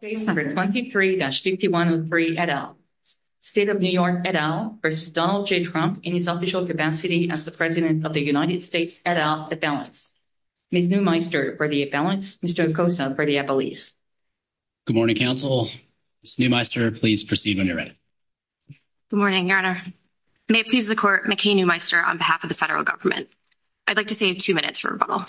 Case No. 23-5103, et al. State of New York, et al. v. Donald J. Trump in his official capacity as the President of the United States, et al., at balance. Ms. Neumeister, ready at balance. Mr. Acosta, ready at release. Good morning, counsel. Ms. Neumeister, please proceed when you're ready. Good morning, Your Honor. May it please the Court, McKay Neumeister on behalf of the federal government. I'd like to save two minutes for rebuttal.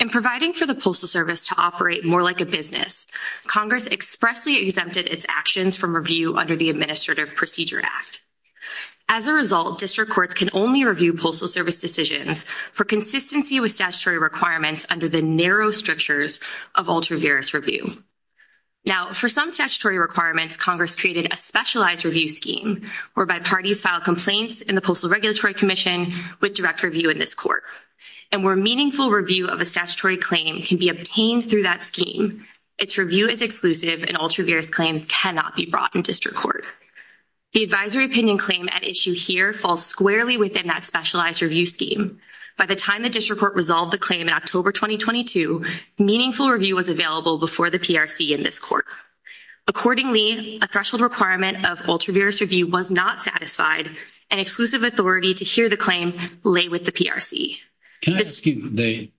In providing for the Postal Service to operate more like a business, Congress expressly exempted its actions from review under the Administrative Procedure Act. As a result, district courts can only review Postal Service decisions for consistency with statutory requirements under the narrow strictures of ultraviarious review. Now, for some statutory requirements, Congress created a specialized review scheme, whereby parties file complaints in the Postal Regulatory Commission with direct review in this court. And where meaningful review of a statutory claim can be obtained through that scheme, its review is exclusive and ultraviarious claims cannot be brought in district court. The advisory opinion claim at issue here falls squarely within that specialized review scheme. By the time the district court resolved the claim in October 2022, meaningful review was available before the PRC in this court. Accordingly, a threshold requirement of ultraviarious review was not satisfied, and exclusive authority to hear the claim lay with the PRC. Can I ask you,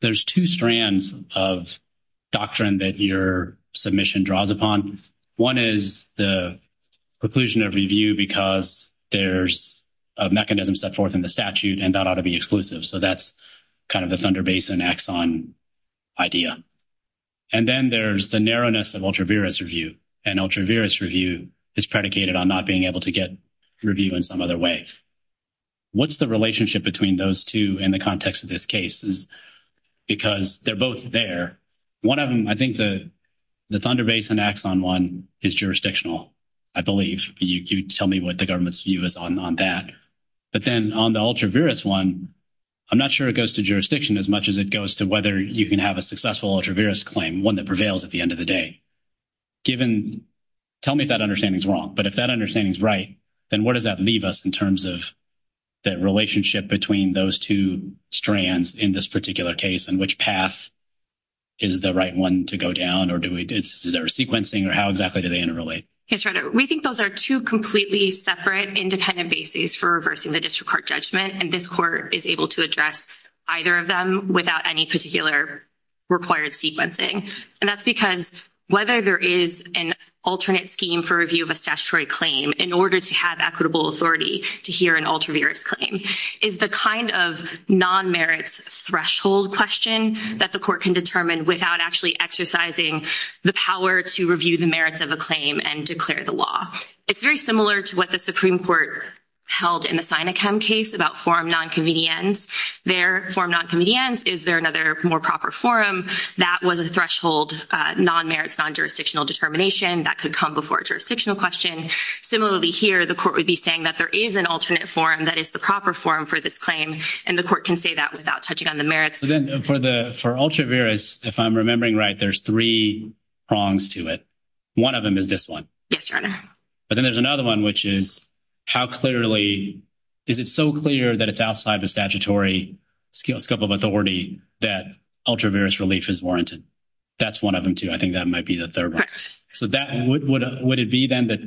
there's two strands of doctrine that your submission draws upon. One is the preclusion of review because there's a mechanism set forth in the statute, and that ought to be exclusive. So that's kind of the Thunder Basin Exxon idea. And then there's the narrowness of ultraviarious review, and ultraviarious review is predicated on not being able to get review in some other way. What's the relationship between those two in the context of this case? Because they're both there. One of them, I think the Thunder Basin Exxon one is jurisdictional, I believe. You tell me what the government's view is on that. But then on the ultraviarious one, I'm not sure it goes to jurisdiction as much as it goes to whether you can have a successful ultraviarious claim, one that prevails at the end of the day. Tell me if that understanding is wrong. But if that understanding is right, then where does that leave us in terms of the relationship between those two strands in this particular case, and which path is the right one to go down? Or is there sequencing, or how exactly do they interrelate? We think those are two completely separate independent bases for reversing the district court judgment. And this court is able to address either of them without any particular required sequencing. And that's because whether there is an alternate scheme for review of a statutory claim in order to have equitable authority to hear an ultraviarious claim is the kind of non-merits threshold question that the court can determine without actually exercising the power to review the merits of a claim. And declare the law. It's very similar to what the Supreme Court held in the Sinekam case about forum non-convenience. There, forum non-convenience, is there another more proper forum? That was a threshold non-merits, non-jurisdictional determination. That could come before a jurisdictional question. Similarly here, the court would be saying that there is an alternate forum that is the proper forum for this claim. And the court can say that without touching on the merits. For ultraviarious, if I'm remembering right, there's three prongs to it. One of them is this one. But then there's another one, which is how clearly, is it so clear that it's outside the statutory scope of authority that ultraviarious relief is warranted? That's one of them, too. I think that might be the third one. Would it be then that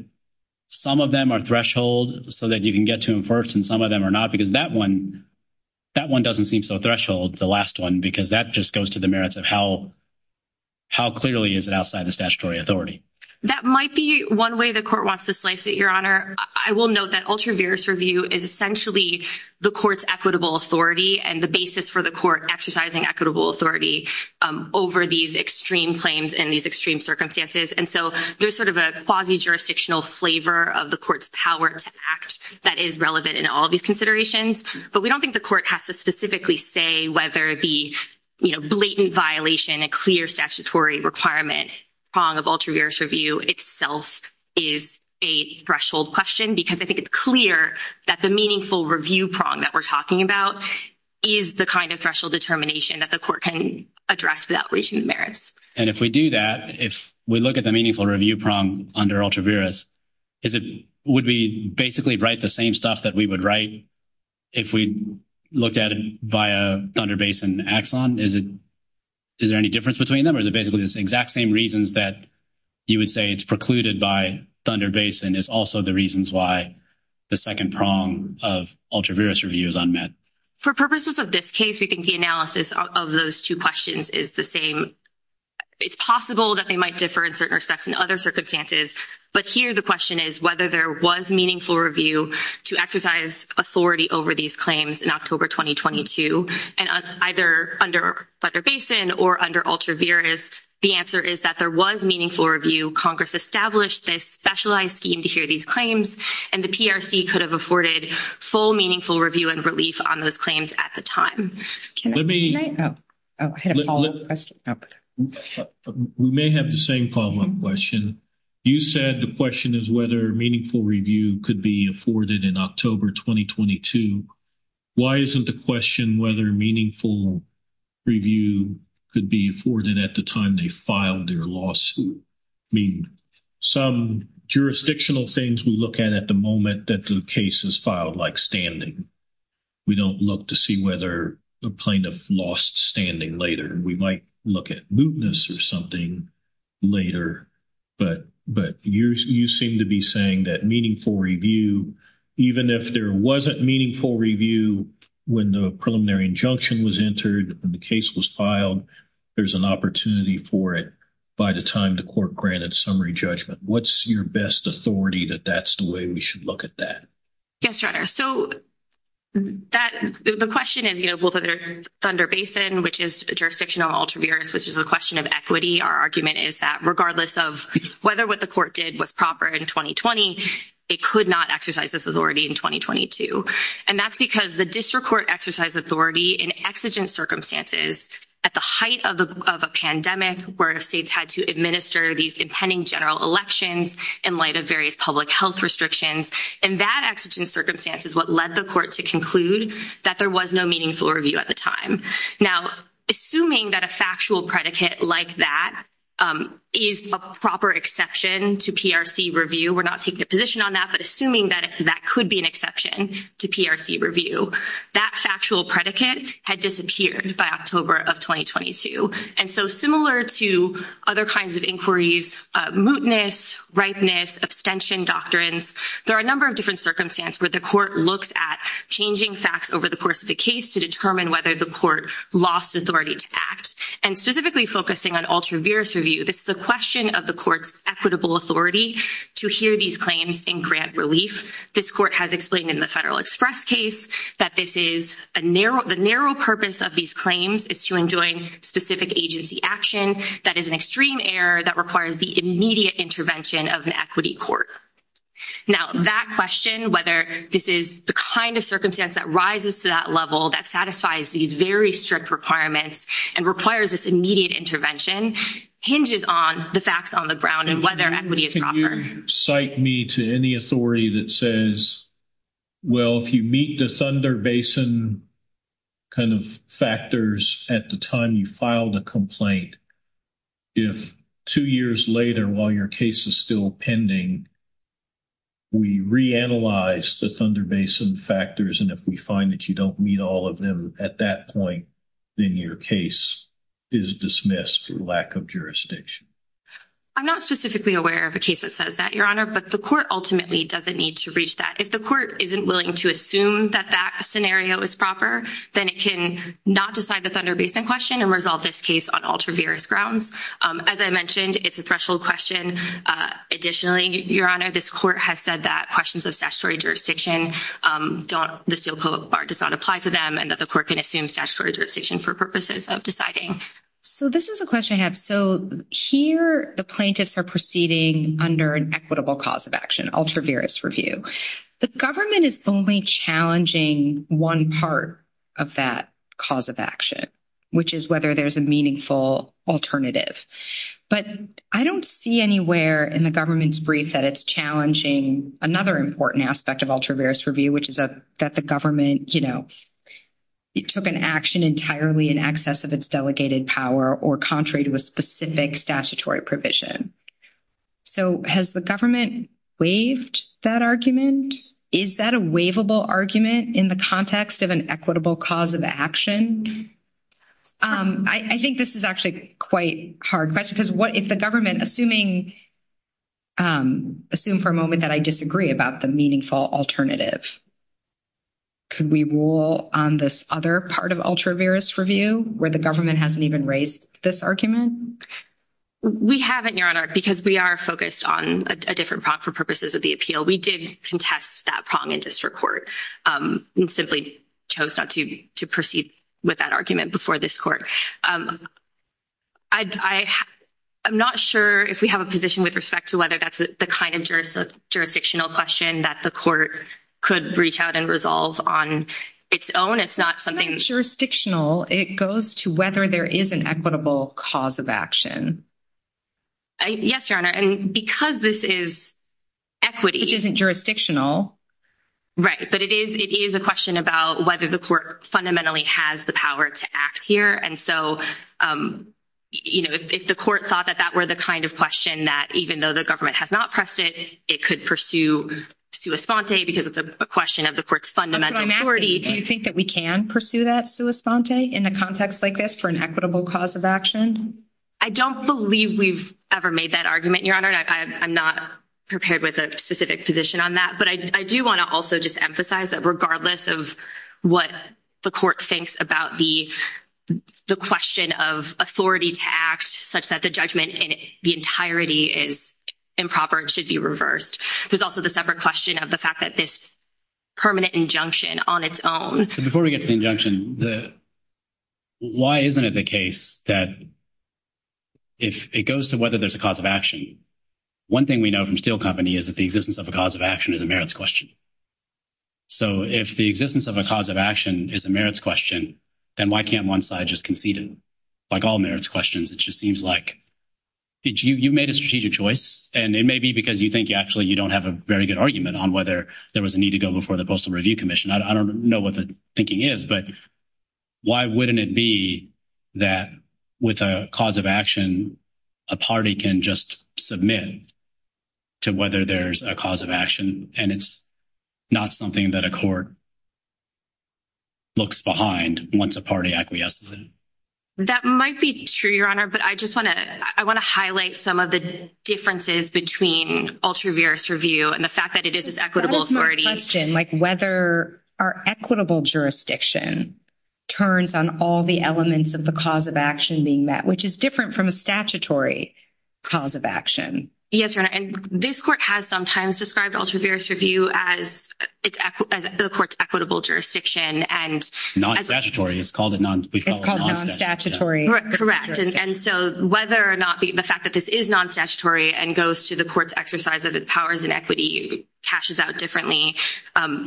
some of them are threshold so that you can get to them first and some of them are not? Because that one doesn't seem so threshold, the last one. Because that just goes to the merits of how clearly is it outside the statutory authority. That might be one way the court wants to slice it, Your Honor. I will note that ultraviarious review is essentially the court's equitable authority. And the basis for the court exercising equitable authority over these extreme claims and these extreme circumstances. And so there's sort of a quasi-jurisdictional flavor of the court's power to act that is relevant in all these considerations. But we don't think the court has to specifically say whether the blatant violation, a clear statutory requirement prong of ultraviarious review itself is a threshold question. Because I think it's clear that the meaningful review prong that we're talking about is the kind of threshold determination that the court can address without raising the merits. And if we do that, if we look at the meaningful review prong under ultraviarious, would we basically write the same stuff that we would write if we looked at it via Thunder Basin Axon? Is there any difference between them or is it basically the exact same reasons that you would say it's precluded by Thunder Basin is also the reasons why the second prong of ultraviarious review is unmet? For purposes of this case, we think the analysis of those two questions is the same. It's possible that they might differ in certain respects in other circumstances. But here the question is whether there was meaningful review to exercise authority over these claims in October 2022. And either under Thunder Basin or under ultraviarious, the answer is that there was meaningful review. Congress established this specialized scheme to hear these claims. And the PRC could have afforded full meaningful review and relief on those claims at the time. Can I? Oh, I had a follow-up question. We may have the same follow-up question. You said the question is whether meaningful review could be afforded in October 2022. Why isn't the question whether meaningful review could be afforded at the time they filed their lawsuit? I mean, some jurisdictional things we look at at the moment that the case is filed like standing. We don't look to see whether a plaintiff lost standing later. We might look at mootness or something later. But you seem to be saying that meaningful review, even if there wasn't meaningful review when the preliminary injunction was entered and the case was filed, there's an opportunity for it by the time the court granted summary judgment. What's your best authority that that's the way we should look at that? Yes, Your Honor. So, the question is, you know, both under Thunder Basin, which is jurisdictional and ultraviarious, which is a question of equity. Our argument is that regardless of whether what the court did was proper in 2020, it could not exercise this authority in 2022. And that's because the district court exercised authority in exigent circumstances at the height of a pandemic, where states had to administer these impending general elections in light of various public health restrictions. And that exigent circumstance is what led the court to conclude that there was no meaningful review at the time. Now, assuming that a factual predicate like that is a proper exception to PRC review, we're not taking a position on that, but assuming that that could be an exception to PRC review, that factual predicate had disappeared by October of 2022. And so, similar to other kinds of inquiries, mootness, ripeness, abstention doctrines, there are a number of different circumstances where the court looks at changing facts over the course of the case to determine whether the court lost authority to act. And specifically focusing on ultraviarious review, this is a question of the court's equitable authority to hear these claims in grant relief. This court has explained in the Federal Express case that the narrow purpose of these claims is to enjoin specific agency action that is an extreme error that requires the immediate intervention of an equity court. Now, that question, whether this is the kind of circumstance that rises to that level, that satisfies these very strict requirements and requires this immediate intervention hinges on the facts on the ground and whether equity is proper. Could you cite me to any authority that says, well, if you meet the Thunder Basin kind of factors at the time you filed a complaint, if two years later while your case is still pending, we reanalyze the Thunder Basin factors, and if we find that you don't meet all of them at that point, then your case is dismissed for lack of jurisdiction. I'm not specifically aware of a case that says that, Your Honor, but the court ultimately doesn't need to reach that. If the court isn't willing to assume that that scenario is proper, then it can not decide the Thunder Basin question and resolve this case on ultraviarious grounds. As I mentioned, it's a threshold question. Additionally, Your Honor, this court has said that questions of statutory jurisdiction, the Steel Coat Bar does not apply to them and that the court can assume statutory jurisdiction for purposes of deciding. So this is a question I have. So here the plaintiffs are proceeding under an equitable cause of action, ultraviarious review. The government is only challenging one part of that cause of action, which is whether there's a meaningful alternative. But I don't see anywhere in the government's brief that it's challenging another important aspect of ultraviarious review, which is that the government, you know, took an action entirely in excess of its delegated power or contrary to a specific statutory provision. So has the government waived that argument? Is that a waivable argument in the context of an equitable cause of action? I think this is actually quite a hard question because if the government, assuming for a moment that I disagree about the meaningful alternative, could we rule on this other part of ultraviarious review where the government hasn't even raised this argument? We haven't, Your Honor, because we are focused on a different prong for purposes of the appeal. We did contest that prong in district court and simply chose not to proceed with that argument before this court. I'm not sure if we have a position with respect to whether that's the kind of jurisdictional question that the court could reach out and resolve on its own. It's not jurisdictional. It goes to whether there is an equitable cause of action. Yes, Your Honor, and because this is equity. Which isn't jurisdictional. Right, but it is a question about whether the court fundamentally has the power to act here. And so, you know, if the court thought that that were the kind of question that even though the government has not pressed it, it could pursue sua sponte because it's a question of the court's fundamental authority. Do you think that we can pursue that sua sponte in a context like this for an equitable cause of action? I don't believe we've ever made that argument, Your Honor. I'm not prepared with a specific position on that, but I do want to also just emphasize that regardless of what the court thinks about the question of authority to act such that the judgment in the entirety is improper, it should be reversed. There's also the separate question of the fact that this permanent injunction on its own. So before we get to the injunction, why isn't it the case that if it goes to whether there's a cause of action, one thing we know from Steel Company is that the existence of a cause of action is a merits question. So if the existence of a cause of action is a merits question, then why can't one side just concede it? Like all merits questions, it just seems like you made a strategic choice, and it may be because you think actually you don't have a very good argument on whether there was a need to go before the Postal Review Commission. I don't know what the thinking is, but why wouldn't it be that with a cause of action, a party can just submit to whether there's a cause of action, and it's not something that a court looks behind once a party acquiesces it? That might be true, Your Honor, but I just want to highlight some of the differences between ultraviarious review and the fact that it is this equitable authority. That is my question, like whether our equitable jurisdiction turns on all the elements of the cause of action being met, which is different from a statutory cause of action. Yes, Your Honor, and this court has sometimes described ultraviarious review as the court's equitable jurisdiction. Non-statutory, we've called it non-statutory. Correct, and so whether or not the fact that this is non-statutory and goes to the court's exercise of its powers and equity, cashes out differently,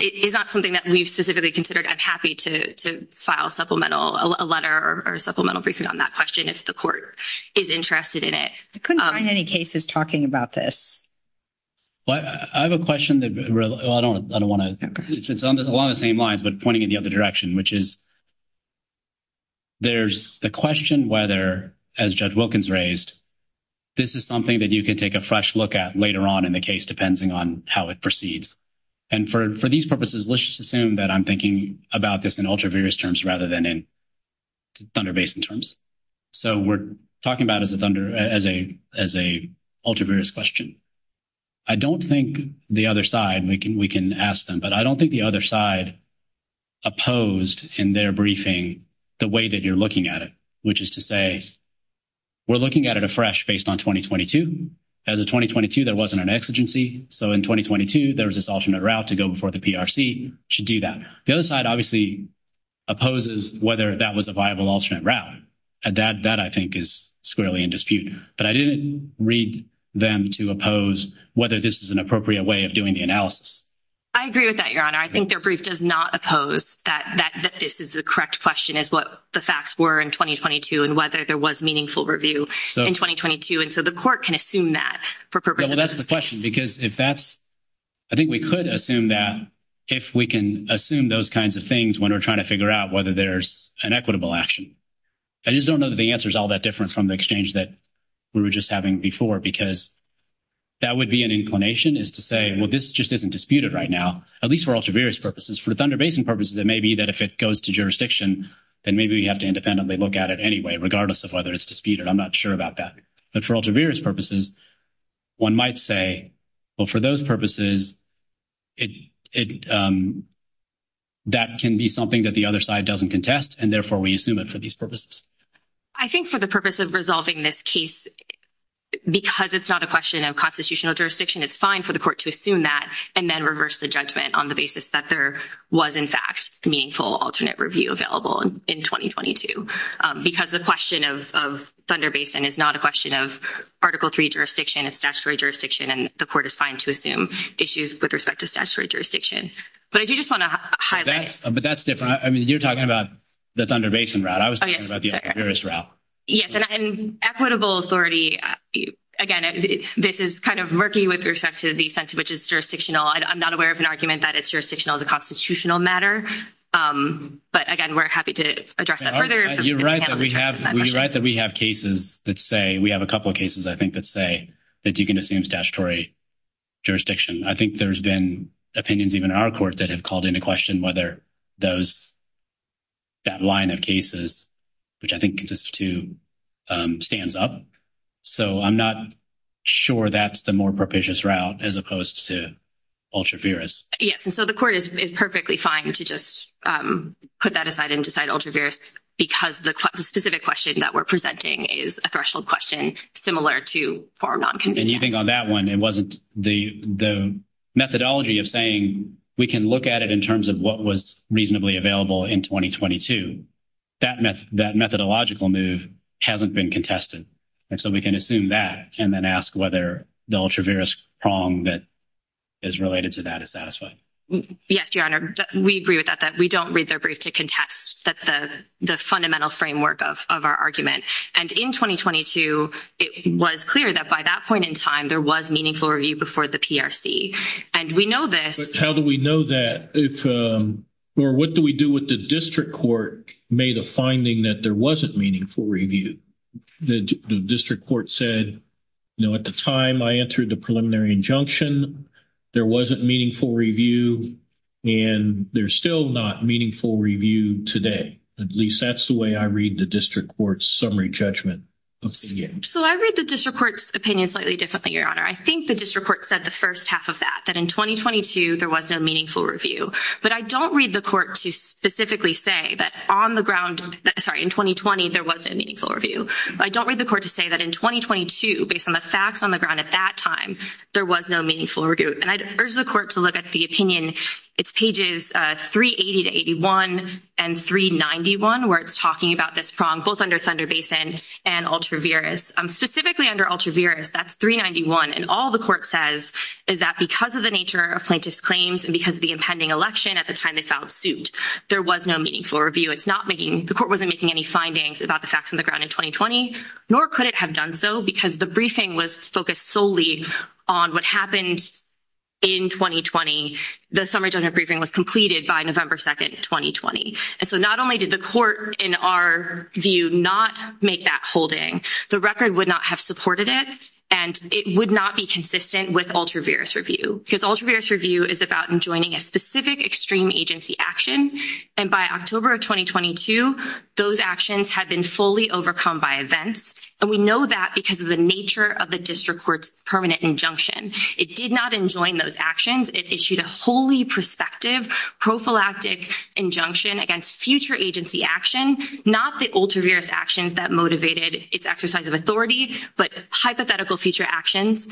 is not something that we've specifically considered. I'm happy to file a letter or a supplemental briefing on that question if the court is interested in it. I couldn't find any cases talking about this. I have a question that I don't want to – it's along the same lines but pointing in the other direction, which is there's the question whether, as Judge Wilkins raised, this is something that you could take a fresh look at later on in the case depending on how it proceeds. And for these purposes, let's just assume that I'm thinking about this in ultraviarious terms rather than in Thunder Basin terms. So we're talking about it as a ultraviarious question. I don't think the other side – we can ask them, but I don't think the other side opposed in their briefing the way that you're looking at it, which is to say we're looking at it afresh based on 2022. As of 2022, there wasn't an exigency. So in 2022, there was this alternate route to go before the PRC should do that. The other side obviously opposes whether that was a viable alternate route. That, I think, is squarely in dispute. But I didn't read them to oppose whether this is an appropriate way of doing the analysis. I agree with that, Your Honor. I think their brief does not oppose that this is a correct question as what the facts were in 2022 and whether there was meaningful review in 2022. And so the court can assume that for purposes of this case. Well, that's the question because if that's – I think we could assume that if we can assume those kinds of things when we're trying to figure out whether there's an equitable action. I just don't know that the answer is all that different from the exchange that we were just having before because that would be an inclination is to say, well, this just isn't disputed right now, at least for ultraviarious purposes. For the Thunder Basin purposes, it may be that if it goes to jurisdiction, then maybe we have to independently look at it anyway, regardless of whether it's disputed. I'm not sure about that. But for ultraviarious purposes, one might say, well, for those purposes, that can be something that the other side doesn't contest, and therefore, we assume it for these purposes. I think for the purpose of resolving this case, because it's not a question of constitutional jurisdiction, it's fine for the court to assume that and then reverse the judgment on the basis that there was, in fact, meaningful alternate review available in 2022. Because the question of Thunder Basin is not a question of Article III jurisdiction. It's statutory jurisdiction, and the court is fine to assume issues with respect to statutory jurisdiction. But I do just want to highlight. But that's different. I mean, you're talking about the Thunder Basin route. I was talking about the ultraviarious route. Yes, and equitable authority, again, this is kind of murky with respect to the sense of which is jurisdictional. I'm not aware of an argument that it's jurisdictional as a constitutional matter. But, again, we're happy to address that further. You're right that we have cases that say – we have a couple of cases, I think, that say that you can assume statutory jurisdiction. I think there's been opinions even in our court that have called into question whether that line of cases, which I think consists of two, stands up. So I'm not sure that's the more propitious route as opposed to ultraviarious. Yes, and so the court is perfectly fine to just put that aside and decide ultraviarious because the specific question that we're presenting is a threshold question similar to form non-convenience. And you think on that one it wasn't the methodology of saying we can look at it in terms of what was reasonably available in 2022. That methodological move hasn't been contested. And so we can assume that and then ask whether the ultraviarious prong that is related to that is satisfied. Yes, Your Honor. We agree with that, that we don't read their brief to contest the fundamental framework of our argument. And in 2022, it was clear that by that point in time there was meaningful review before the PRC. And we know this – But how do we know that if – or what do we do with the district court made a finding that there wasn't meaningful review? The district court said, you know, at the time I entered the preliminary injunction, there wasn't meaningful review. And there's still not meaningful review today. At least that's the way I read the district court's summary judgment. So I read the district court's opinion slightly differently, Your Honor. I think the district court said the first half of that, that in 2022 there was no meaningful review. But I don't read the court to specifically say that on the ground – sorry, in 2020 there was no meaningful review. I don't read the court to say that in 2022, based on the facts on the ground at that time, there was no meaningful review. And I urge the court to look at the opinion. It's pages 380 to 81 and 391 where it's talking about this prong both under Thunder Basin and ultraviarious. Specifically under ultraviarious, that's 391. And all the court says is that because of the nature of plaintiff's claims and because of the impending election at the time they filed suit, there was no meaningful review. It's not making – the court wasn't making any findings about the facts on the ground in 2020. Nor could it have done so because the briefing was focused solely on what happened in 2020. The summary judgment briefing was completed by November 2nd, 2020. And so not only did the court, in our view, not make that holding, the record would not have supported it. And it would not be consistent with ultraviarious review. Because ultraviarious review is about enjoining a specific extreme agency action. And by October of 2022, those actions had been fully overcome by events. And we know that because of the nature of the district court's permanent injunction. It did not enjoin those actions. It issued a wholly prospective prophylactic injunction against future agency action. Not the ultraviarious actions that motivated its exercise of authority, but hypothetical future actions.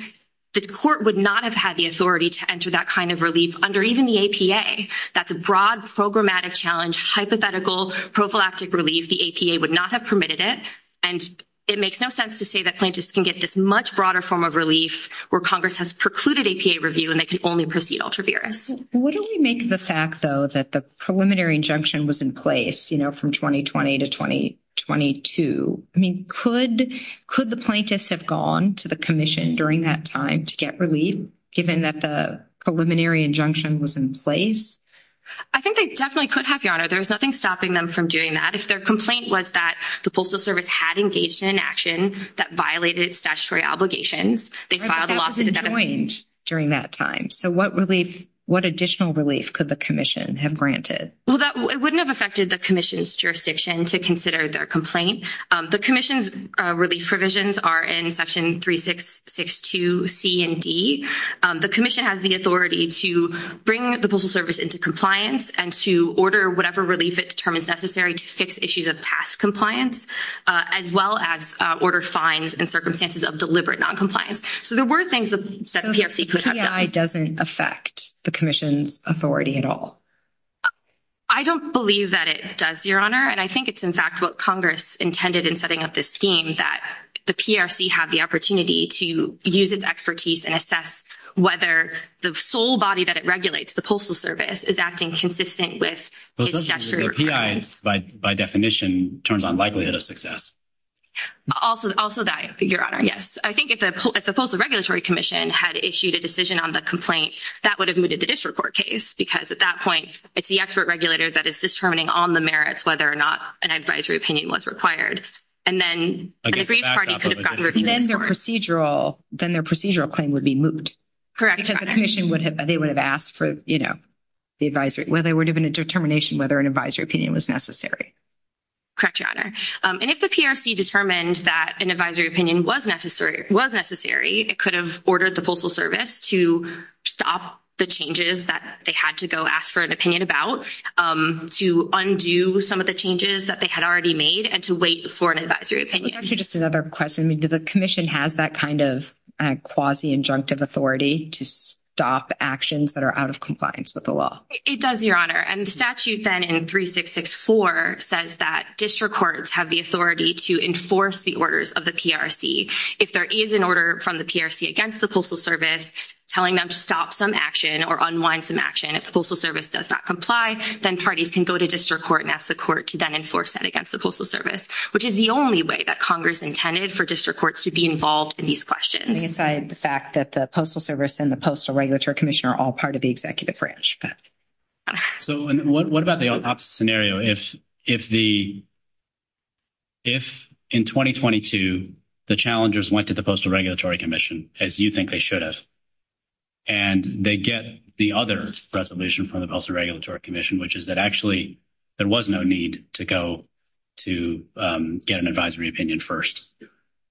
The court would not have had the authority to enter that kind of relief under even the APA. That's a broad programmatic challenge, hypothetical prophylactic relief. The APA would not have permitted it. And it makes no sense to say that plaintiffs can get this much broader form of relief where Congress has precluded APA review and they can only proceed ultraviarious. What do we make of the fact, though, that the preliminary injunction was in place, you know, from 2020 to 2022? I mean, could the plaintiffs have gone to the commission during that time to get relief, given that the preliminary injunction was in place? I think they definitely could have, Your Honor. There was nothing stopping them from doing that. If their complaint was that the Postal Service had engaged in an action that violated statutory obligations, they filed a lawsuit. They could have joined during that time. So what relief, what additional relief could the commission have granted? Well, it wouldn't have affected the commission's jurisdiction to consider their complaint. The commission's relief provisions are in Section 3662C and D. The commission has the authority to bring the Postal Service into compliance and to order whatever relief it determines necessary to fix issues of past compliance, as well as order fines and circumstances of deliberate noncompliance. So there were things that the PRC could have done. So the PI doesn't affect the commission's authority at all? I don't believe that it does, Your Honor, and I think it's, in fact, what Congress intended in setting up this scheme, that the PRC have the opportunity to use its expertise and assess whether the sole body that it regulates, the Postal Service, is acting consistent with its statutory requirements. The PI, by definition, turns on likelihood of success. Also that, Your Honor, yes. I think if the Postal Regulatory Commission had issued a decision on the complaint, that would have mooted the district court case, because at that point, it's the expert regulator that is determining on the merits whether or not an advisory opinion was required. And then an aggrieved party could have gotten reviews for it. Then their procedural claim would be moot. Correct, Your Honor. Because the commission would have, they would have asked for, you know, the advisory, well, there would have been a determination whether an advisory opinion was necessary. Correct, Your Honor. And if the PRC determined that an advisory opinion was necessary, it could have ordered the Postal Service to stop the changes that they had to go ask for an opinion about, to undo some of the changes that they had already made, and to wait for an advisory opinion. It was actually just another question. I mean, do the commission has that kind of quasi-injunctive authority to stop actions that are out of compliance with the law? It does, Your Honor. And the statute then in 3664 says that district courts have the authority to enforce the orders of the PRC. If there is an order from the PRC against the Postal Service telling them to stop some action or unwind some action, if the Postal Service does not comply, then parties can go to district court and ask the court to then enforce that against the Postal Service, which is the only way that Congress intended for district courts to be involved in these questions. Putting aside the fact that the Postal Service and the Postal Regulatory Commission are all part of the executive branch. So what about the opposite scenario? If in 2022 the challengers went to the Postal Regulatory Commission, as you think they should have, and they get the other resolution from the Postal Regulatory Commission, which is that actually there was no need to go to get an advisory opinion first,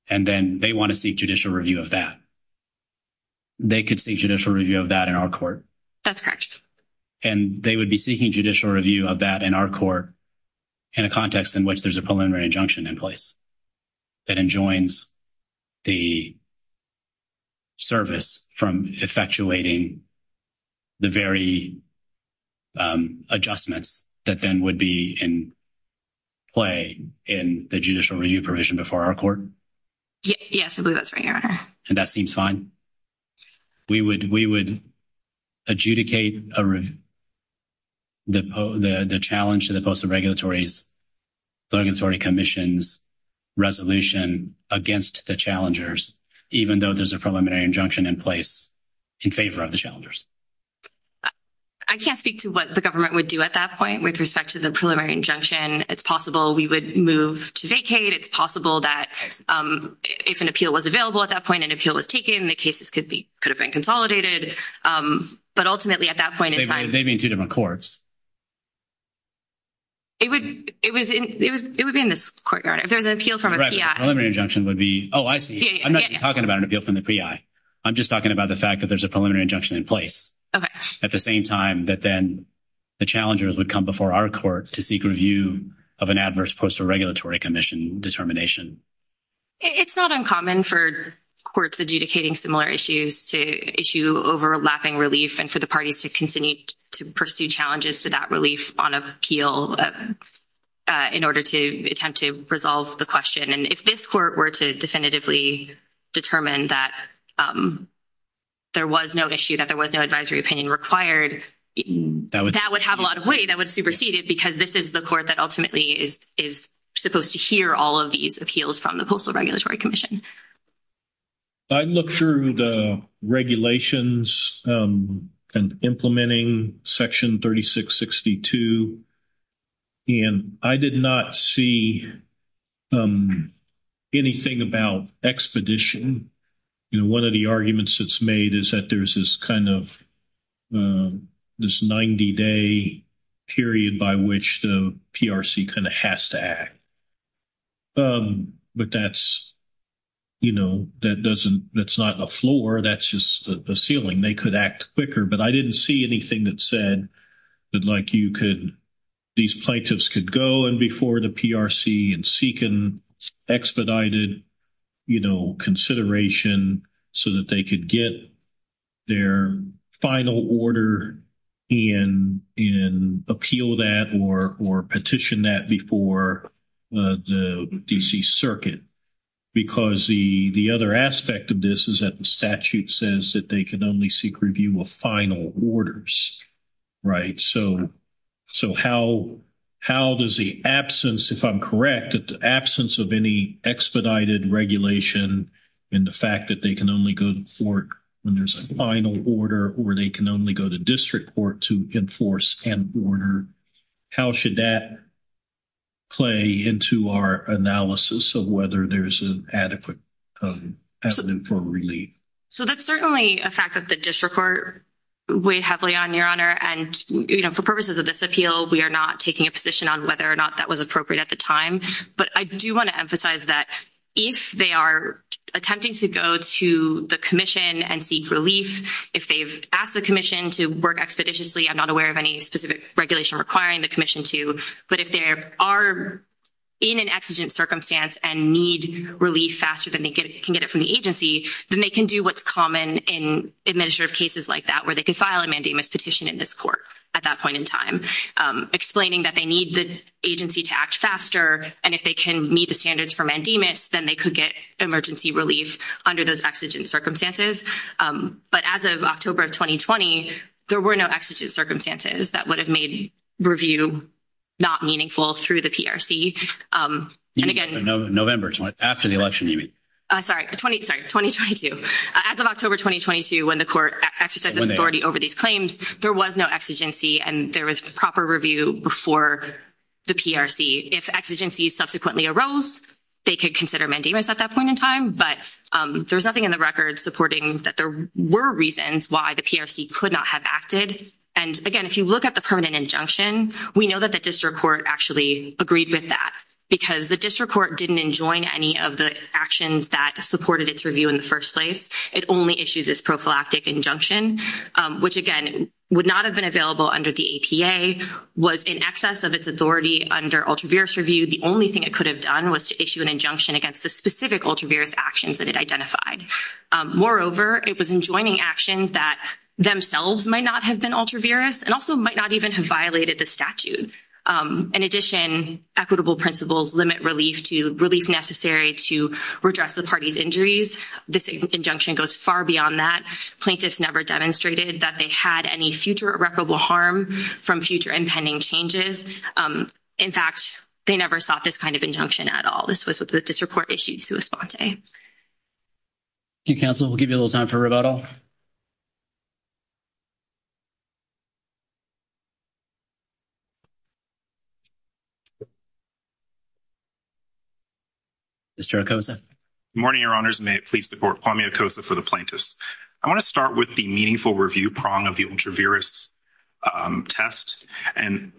and then they want to seek judicial review of that, they could seek judicial review of that in our court. That's correct. And they would be seeking judicial review of that in our court in a context in which there's a preliminary injunction in place that enjoins the service from effectuating the very adjustments that then would be in play in the judicial review provision before our court? Yes, I believe that's right, Your Honor. And that seems fine? We would adjudicate the challenge to the Postal Regulatory Commission's resolution against the challengers, even though there's a preliminary injunction in place in favor of the challengers. I can't speak to what the government would do at that point with respect to the preliminary injunction. It's possible we would move to vacate. It's possible that if an appeal was available at that point, an appeal was taken, the cases could have been consolidated. But ultimately at that point in time— They'd be in two different courts. It would be in this court, Your Honor, if there was an appeal from a PI. Right, but the preliminary injunction would be—oh, I see. I'm not even talking about an appeal from the PI. I'm just talking about the fact that there's a preliminary injunction in place at the same time that then the challengers would come before our court to seek review of an adverse Postal Regulatory Commission determination. It's not uncommon for courts adjudicating similar issues to issue overlapping relief and for the parties to continue to pursue challenges to that relief on appeal in order to attempt to resolve the question. And if this court were to definitively determine that there was no issue, that there was no advisory opinion required, that would have a lot of weight. That would supersede it because this is the court that ultimately is supposed to hear all of these appeals from the Postal Regulatory Commission. I looked through the regulations and implementing Section 3662, and I did not see anything about expedition. You know, one of the arguments that's made is that there's this kind of this 90-day period by which the PRC kind of has to act. But that's, you know, that doesn't—that's not a floor. That's just a ceiling. They could act quicker, but I didn't see anything that said that, like, you could—these plaintiffs could go in before the PRC and seek an expedited, you know, consideration so that they could get their final order and appeal that or petition that before the D.C. Circuit. Because the other aspect of this is that the statute says that they can only seek review of final orders, right? So how does the absence, if I'm correct, the absence of any expedited regulation and the fact that they can only go to court when there's a final order or they can only go to district court to enforce an order, how should that play into our analysis of whether there's an adequate avenue for relief? So that's certainly a fact that the district court weighed heavily on, Your Honor. And, you know, for purposes of this appeal, we are not taking a position on whether or not that was appropriate at the time. But I do want to emphasize that if they are attempting to go to the commission and seek relief, if they've asked the commission to work expeditiously, I'm not aware of any specific regulation requiring the commission to, but if they are in an exigent circumstance and need relief faster than they can get it from the agency, then they can do what's common in administrative cases like that, where they can file a mandamus petition in this court at that point in time, explaining that they need the agency to act faster. And if they can meet the standards for mandamus, then they could get emergency relief under those exigent circumstances. But as of October of 2020, there were no exigent circumstances that would have made review not meaningful through the PRC. November, after the election, you mean? Sorry, 2022. As of October 2022, when the court exercised authority over these claims, there was no exigency and there was proper review before the PRC. If exigencies subsequently arose, they could consider mandamus at that point in time, but there's nothing in the record supporting that there were reasons why the PRC could not have acted. And, again, if you look at the permanent injunction, we know that the district court actually agreed with that because the district court didn't enjoin any of the actions that supported its review in the first place. It only issued this prophylactic injunction, which, again, would not have been available under the APA, was in excess of its authority under ultraviorous review. The only thing it could have done was to issue an injunction against the specific ultraviorous actions that it identified. Moreover, it was enjoining actions that themselves might not have been ultraviorous and also might not even have violated the statute. In addition, equitable principles limit relief necessary to redress the party's injuries. This injunction goes far beyond that. Plaintiffs never demonstrated that they had any future irreparable harm from future impending changes. In fact, they never sought this kind of injunction at all. This was what the district court issued sua sponte. Thank you, counsel. We'll give you a little time for rebuttal. Mr. Okosa. Good morning, your honors. May it please the court. Kwame Okosa for the plaintiffs. I want to start with the meaningful review prong of the ultraviorous test. And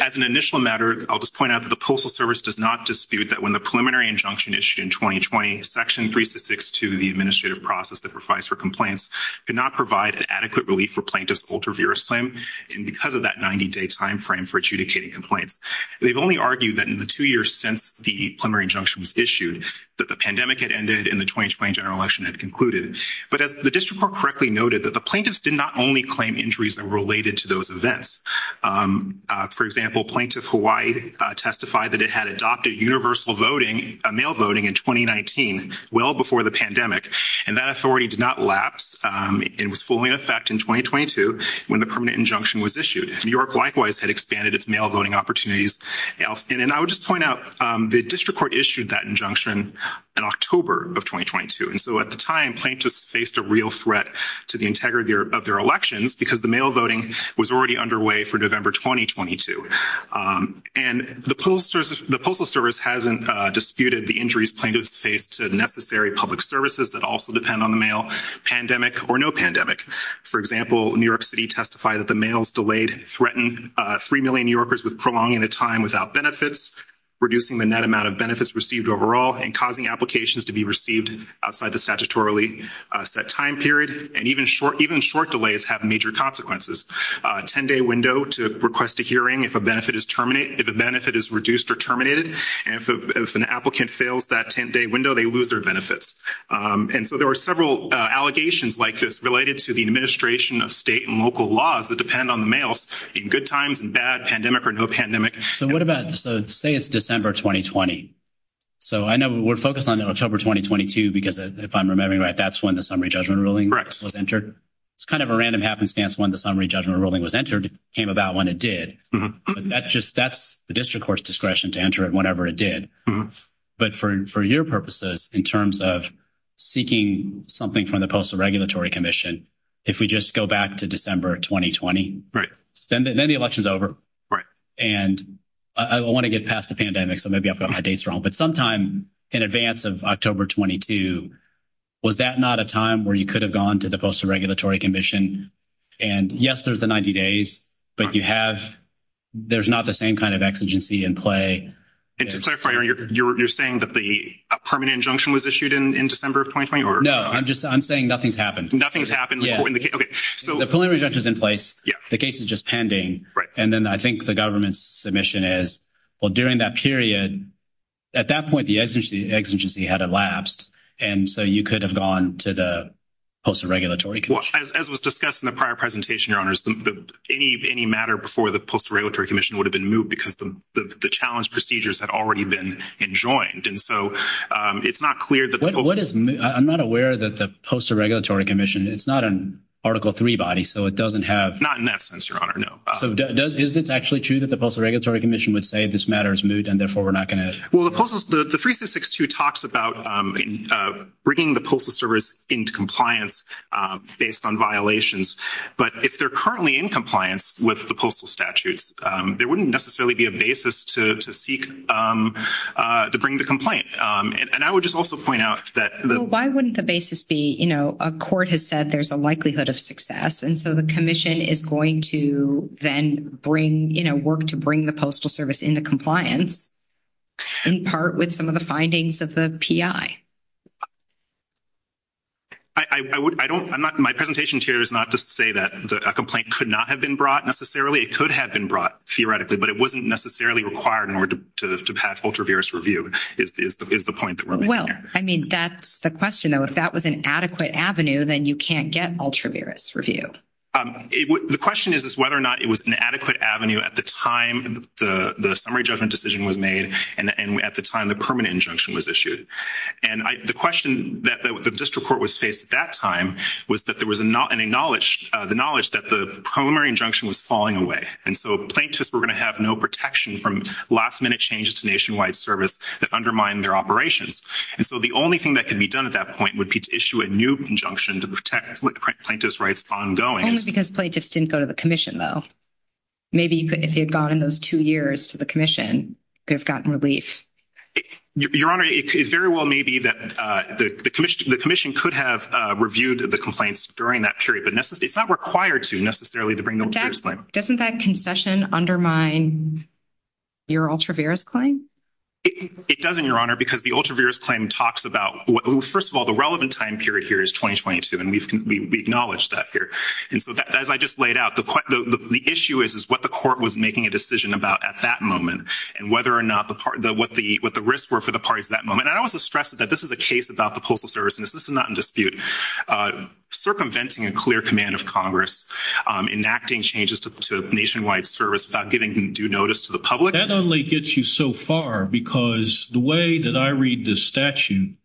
as an initial matter, I'll just point out that the Postal Service does not dispute that when the preliminary injunction issued in 2020, section 362 of the administrative process that provides for complaints could not provide an adequate relief for plaintiffs' ultraviorous claim. And because of that 90-day timeframe for adjudicating complaints, they've only argued that in the two years since the preliminary injunction was issued, that the pandemic had ended and the 2020 general election had concluded. But as the district court correctly noted, that the plaintiffs did not only claim injuries that were related to those events. For example, Plaintiff Hawaii testified that it had adopted universal voting, mail voting in 2019, well before the pandemic. And that authority did not lapse. It was fully in effect in 2022 when the permanent injunction was issued. New York likewise had expanded its mail voting opportunities. And I would just point out the district court issued that injunction in October of 2022. And so at the time, plaintiffs faced a real threat to the integrity of their elections because the mail voting was already underway for November 2022. And the Postal Service hasn't disputed the injuries plaintiffs faced to necessary public services that also depend on the mail, pandemic or no pandemic. For example, New York City testified that the mail's delayed, threatened 3 million New Yorkers with prolonging the time without benefits, reducing the net amount of benefits received overall, and causing applications to be received outside the statutorily set time period. And even short delays have major consequences. A 10-day window to request a hearing if a benefit is reduced or terminated. And if an applicant fails that 10-day window, they lose their benefits. And so there were several allegations like this related to the administration of state and local laws that depend on the mails in good times and bad, pandemic or no pandemic. So what about – so say it's December 2020. So I know we're focused on October 2022 because if I'm remembering right, that's when the summary judgment ruling was entered. It's kind of a random happenstance when the summary judgment ruling was entered. It came about when it did. That's the district court's discretion to enter it whenever it did. But for your purposes in terms of seeking something from the Postal Regulatory Commission, if we just go back to December 2020, then the election's over. And I want to get past the pandemic, so maybe I've got my dates wrong. But sometime in advance of October 22, was that not a time where you could have gone to the Postal Regulatory Commission? And yes, there's the 90 days, but you have – there's not the same kind of exigency in play. And to clarify, you're saying that the permanent injunction was issued in December of 2020? No, I'm just – I'm saying nothing's happened. Nothing's happened. The preliminary injunction is in place. The case is just pending. And then I think the government's submission is, well, during that period, at that point, the exigency had elapsed. And so you could have gone to the Postal Regulatory Commission. Well, as was discussed in the prior presentation, Your Honors, any matter before the Postal Regulatory Commission would have been moved because the challenge procedures had already been enjoined. And so it's not clear that the – What is – I'm not aware that the Postal Regulatory Commission – it's not an Article III body, so it doesn't have – Not in that sense, Your Honor, no. So is it actually true that the Postal Regulatory Commission would say this matter is moved and therefore we're not going to – Well, the Postal – the 3662 talks about bringing the Postal Service into compliance. Based on violations. But if they're currently in compliance with the postal statutes, there wouldn't necessarily be a basis to seek – to bring the complaint. And I would just also point out that the – Well, why wouldn't the basis be, you know, a court has said there's a likelihood of success, and so the commission is going to then bring, you know, work to bring the Postal Service into compliance in part with some of the findings of the PI? I don't – I'm not – my presentation here is not to say that a complaint could not have been brought necessarily. It could have been brought theoretically, but it wasn't necessarily required in order to pass ultra-virus review is the point that we're making here. Well, I mean, that's the question, though. If that was an adequate avenue, then you can't get ultra-virus review. The question is whether or not it was an adequate avenue at the time the summary judgment decision was made and at the time the permanent injunction was issued. And the question that the district court was faced at that time was that there was a knowledge – the knowledge that the preliminary injunction was falling away. And so plaintiffs were going to have no protection from last-minute changes to nationwide service that undermined their operations. And so the only thing that could be done at that point would be to issue a new injunction to protect plaintiff's rights ongoing. Only because plaintiffs didn't go to the commission, though. Maybe if you had gone in those two years to the commission, you could have gotten relief. Your Honor, it very well may be that the commission could have reviewed the complaints during that period, but it's not required to necessarily to bring the ultra-virus claim. Doesn't that concession undermine your ultra-virus claim? It doesn't, Your Honor, because the ultra-virus claim talks about – first of all, the relevant time period here is 2022, and we acknowledge that here. And so as I just laid out, the issue is what the court was making a decision about at that moment and what the risks were for the parties at that moment. And I also stress that this is a case about the Postal Service, and this is not in dispute, circumventing a clear command of Congress, enacting changes to nationwide service without giving due notice to the public. That only gets you so far because the way that I read this statute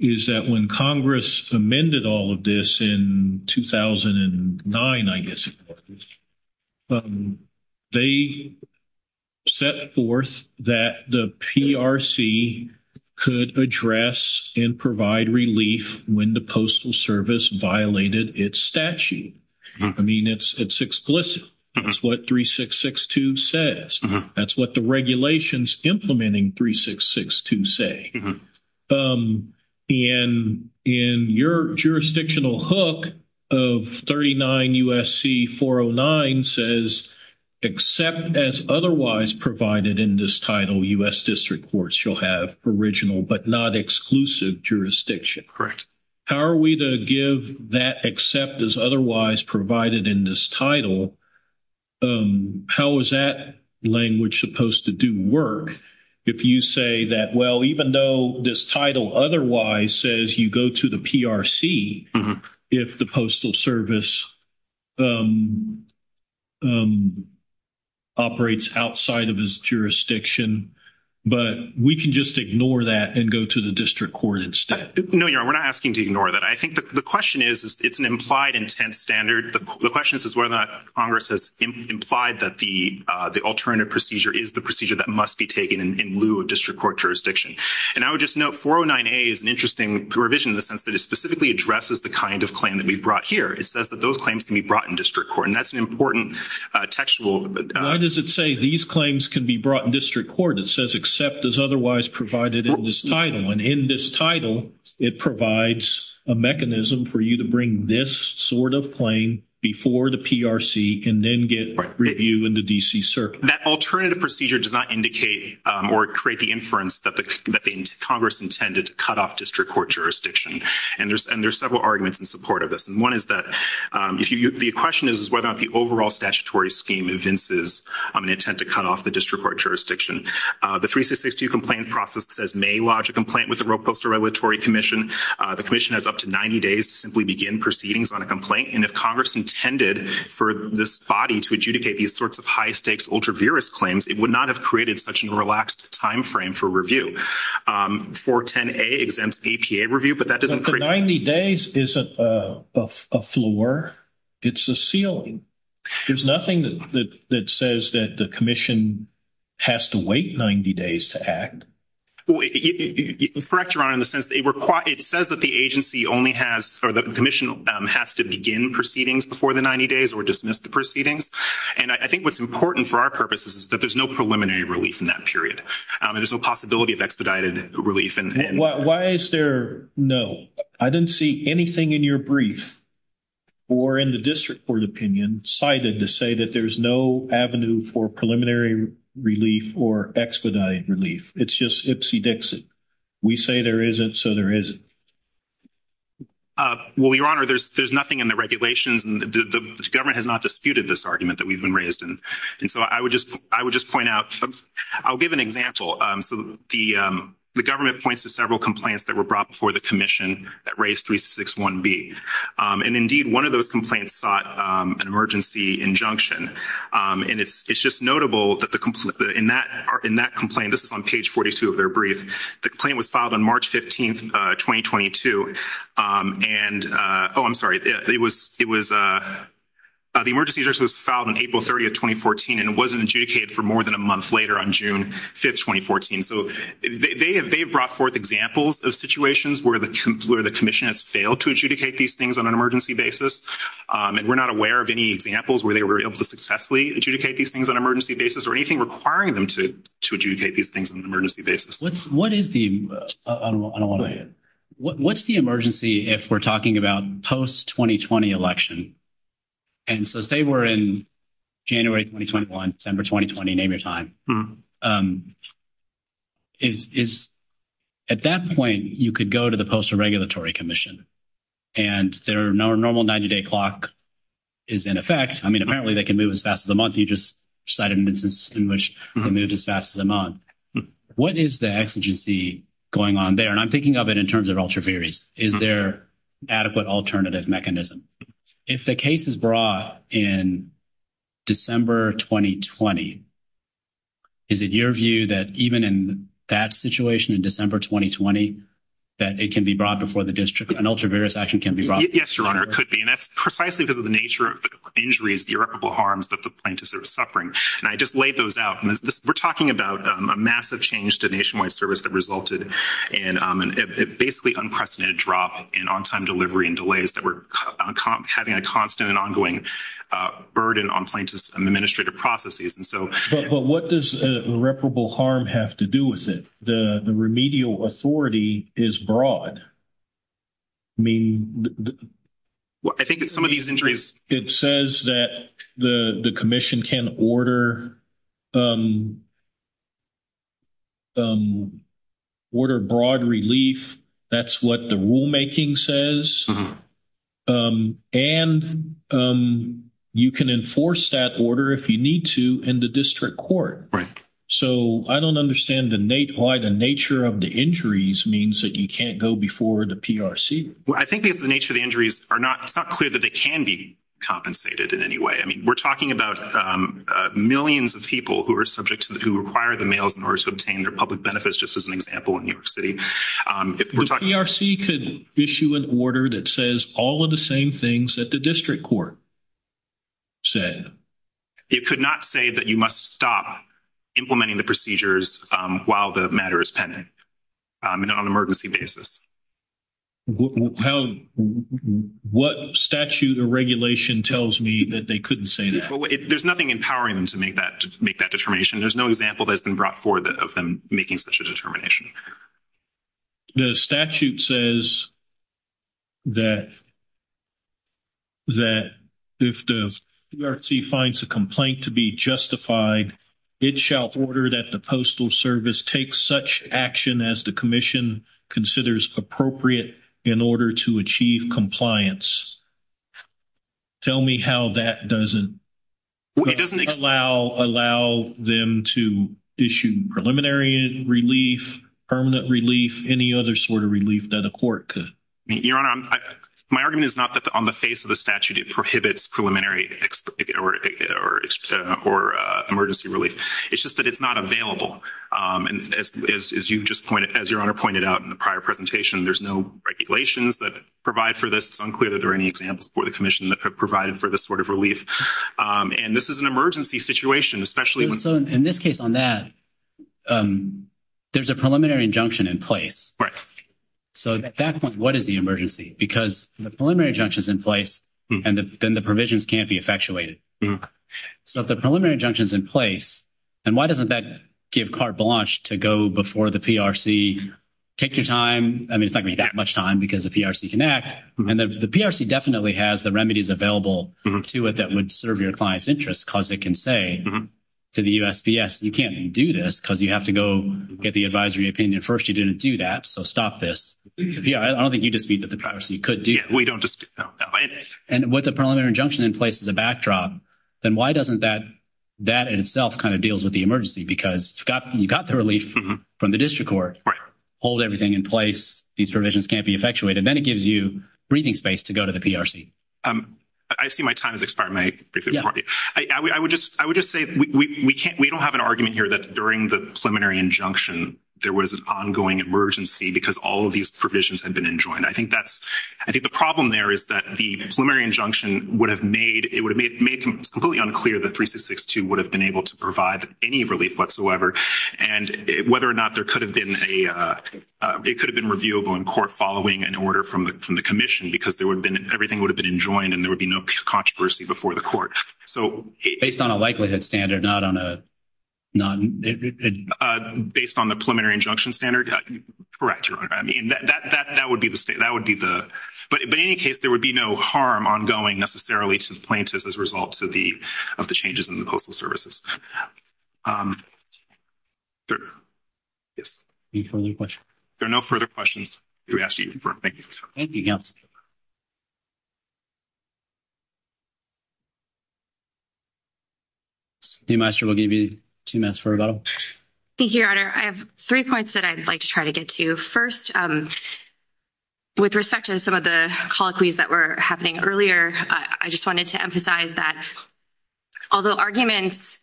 is that when Congress amended all of this in 2009, I guess, they set forth that the PRC could address and provide relief when the Postal Service violated its statute. I mean, it's explicit. It's what 3662 says. That's what the regulations implementing 3662 say. And in your jurisdictional hook of 39 U.S.C. 409 says, except as otherwise provided in this title, U.S. District Courts shall have original but not exclusive jurisdiction. Correct. How are we to give that except as otherwise provided in this title? How is that language supposed to do work if you say that, well, even though this title otherwise says you go to the PRC if the Postal Service operates outside of its jurisdiction, but we can just ignore that and go to the District Court instead? No, Your Honor, we're not asking to ignore that. I think the question is it's an implied intent standard. The question is whether or not Congress has implied that the alternative procedure is the procedure that must be taken in lieu of District Court jurisdiction. And I would just note 409A is an interesting provision in the sense that it specifically addresses the kind of claim that we brought here. It says that those claims can be brought in District Court. And that's an important textual – Why does it say these claims can be brought in District Court? It says except as otherwise provided in this title. And in this title, it provides a mechanism for you to bring this sort of claim before the PRC and then get review in the D.C. Circuit. That alternative procedure does not indicate or create the inference that Congress intended to cut off District Court jurisdiction. And there's several arguments in support of this. And one is that the question is whether or not the overall statutory scheme evinces an intent to cut off the District Court jurisdiction. The 3662 complaint process says may lodge a complaint with the Roe Post Regulatory Commission. The commission has up to 90 days to simply begin proceedings on a complaint. And if Congress intended for this body to adjudicate these sorts of high-stakes ultra-virus claims, it would not have created such a relaxed timeframe for review. 410A exempts APA review, but that doesn't create – But the 90 days isn't a floor. It's a ceiling. There's nothing that says that the commission has to wait 90 days to act. It's correct, Your Honor, in the sense that it says that the agency only has – or the commission has to begin proceedings before the 90 days or dismiss the proceedings. And I think what's important for our purposes is that there's no preliminary relief in that period. There's no possibility of expedited relief. Why is there no? I didn't see anything in your brief or in the District Court opinion cited to say that there's no avenue for preliminary relief or expedited relief. It's just ipsy-dixy. We say there isn't, so there isn't. Well, Your Honor, there's nothing in the regulations. The government has not disputed this argument that we've been raised in. And so I would just point out – I'll give an example. So the government points to several complaints that were brought before the commission that raised 361B. And, indeed, one of those complaints sought an emergency injunction. And it's just notable that in that complaint – this is on page 42 of their brief – the complaint was filed on March 15, 2022. And – oh, I'm sorry. It was – the emergency injunction was filed on April 30, 2014, and it wasn't adjudicated for more than a month later on June 5, 2014. So they have brought forth examples of situations where the commission has failed to adjudicate these things on an emergency basis. And we're not aware of any examples where they were able to successfully adjudicate these things on an emergency basis or anything requiring them to adjudicate these things on an emergency basis. What is the – what's the emergency if we're talking about post-2020 election? And so say we're in January 2021, December 2020, name your time. At that point, you could go to the Postal Regulatory Commission. And their normal 90-day clock is in effect. I mean, apparently they can move as fast as a month. You just cited an instance in which they moved as fast as a month. What is the exigency going on there? And I'm thinking of it in terms of ultraviarious. Is there adequate alternative mechanism? If the case is brought in December 2020, is it your view that even in that situation in December 2020, that it can be brought before the district, an ultraviarious action can be brought? Yes, Your Honor, it could be. And that's precisely because of the nature of the injuries, the irreparable harms that the plaintiffs are suffering. And I just laid those out. We're talking about a massive change to nationwide service that resulted in basically unprecedented drop in on-time delivery and delays that were having a constant and ongoing burden on plaintiffs' administrative processes. But what does irreparable harm have to do with it? The remedial authority is broad. I think some of these injuries. It says that the commission can order broad relief. That's what the rulemaking says. And you can enforce that order if you need to in the district court. Right. So I don't understand why the nature of the injuries means that you can't go before the PRC. I think it's the nature of the injuries. It's not clear that they can be compensated in any way. I mean, we're talking about millions of people who require the mails in order to obtain their public benefits, just as an example in New York City. The PRC could issue an order that says all of the same things that the district court said. It could not say that you must stop implementing the procedures while the matter is pending on an emergency basis. What statute or regulation tells me that they couldn't say that? There's nothing empowering them to make that determination. There's no example that's been brought forward of them making such a determination. The statute says that if the PRC finds a complaint to be justified, it shall order that the Postal Service take such action as the commission considers appropriate in order to achieve compliance. Tell me how that doesn't allow them to issue preliminary relief. Permanent relief, any other sort of relief that a court could? Your Honor, my argument is not that on the face of the statute it prohibits preliminary or emergency relief. It's just that it's not available. As Your Honor pointed out in the prior presentation, there's no regulations that provide for this. It's unclear that there are any examples for the commission that have provided for this sort of relief. And this is an emergency situation, especially when— In this case on that, there's a preliminary injunction in place. So at that point, what is the emergency? Because the preliminary injunction is in place, and then the provisions can't be effectuated. So if the preliminary injunction is in place, and why doesn't that give carte blanche to go before the PRC, take your time? I mean, it's not going to be that much time because the PRC can act. And the PRC definitely has the remedies available to it that would serve your client's interests because it can say to the USPS, you can't do this because you have to go get the advisory opinion first. You didn't do that, so stop this. I don't think you dispute that the PRC could do this. We don't dispute that. And with the preliminary injunction in place as a backdrop, then why doesn't that in itself kind of deals with the emergency? Because you've got the relief from the district court. Hold everything in place. These provisions can't be effectuated. And then it gives you breathing space to go to the PRC. I see my time has expired. I would just say we don't have an argument here that during the preliminary injunction, there was an ongoing emergency because all of these provisions had been enjoined. I think the problem there is that the preliminary injunction would have made it completely unclear that 3662 would have been able to provide any relief whatsoever. And whether or not it could have been reviewable in court following an order from the commission, because everything would have been enjoined and there would be no controversy before the court. Based on a likelihood standard, not on a— Based on the preliminary injunction standard? Correct, Your Honor. That would be the—but in any case, there would be no harm ongoing necessarily to the plaintiffs as a result of the changes in the Postal Services. Yes. Any further questions? There are no further questions. We ask that you confirm. Thank you. Thank you, Your Honor. Chief Maestro will give you two minutes for rebuttal. Thank you, Your Honor. I have three points that I'd like to try to get to. First, with respect to some of the colloquies that were happening earlier, I just wanted to emphasize that although arguments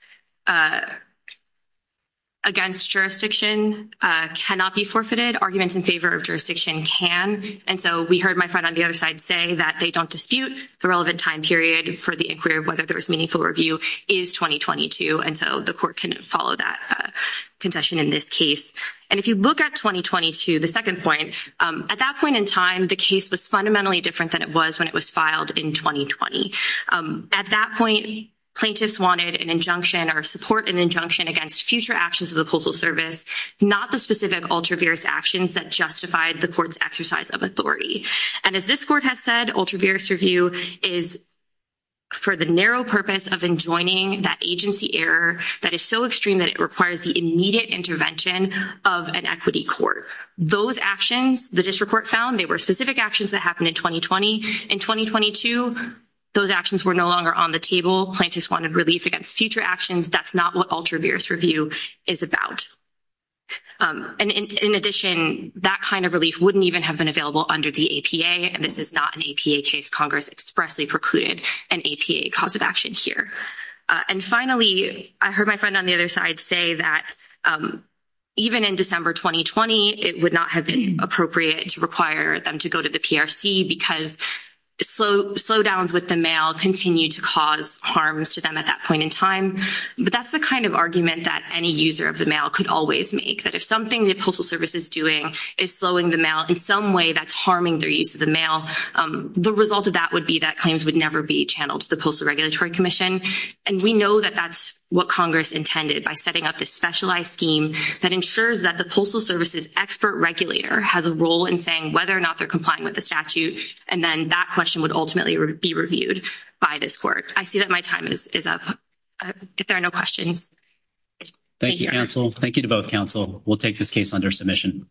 against jurisdiction cannot be forfeited, arguments in favor of jurisdiction can. And so we heard my friend on the other side say that they don't dispute the relevant time period for the inquiry of whether there was meaningful review is 2022. And so the court can follow that concession in this case. And if you look at 2022, the second point, at that point in time, the case was fundamentally different than it was when it was filed in 2020. At that point, plaintiffs wanted an injunction or support an injunction against future actions of the Postal Service, not the specific ultraviarious actions that justified the court's exercise of authority. And as this court has said, ultraviarious review is for the narrow purpose of enjoining that agency error that is so extreme that it requires the immediate intervention of an equity court. Those actions, the district court found, they were specific actions that happened in 2020. In 2022, those actions were no longer on the table. Plaintiffs wanted relief against future actions. That's not what ultraviarious review is about. And in addition, that kind of relief wouldn't even have been available under the APA, and this is not an APA case. Congress expressly precluded an APA cause of action here. And finally, I heard my friend on the other side say that even in December 2020, it would not have been appropriate to require them to go to the PRC because slowdowns with the mail continued to cause harms to them at that point in time. But that's the kind of argument that any user of the mail could always make, that if something the Postal Service is doing is slowing the mail in some way that's harming their use of the mail, the result of that would be that claims would never be channeled to the Postal Regulatory Commission. And we know that that's what Congress intended by setting up this specialized scheme that ensures that the Postal Service's expert regulator has a role in saying whether or not they're complying with the statute, and then that question would ultimately be reviewed by this court. I see that my time is up. If there are no questions. Thank you, counsel. Thank you to both counsel. We'll take this case under submission.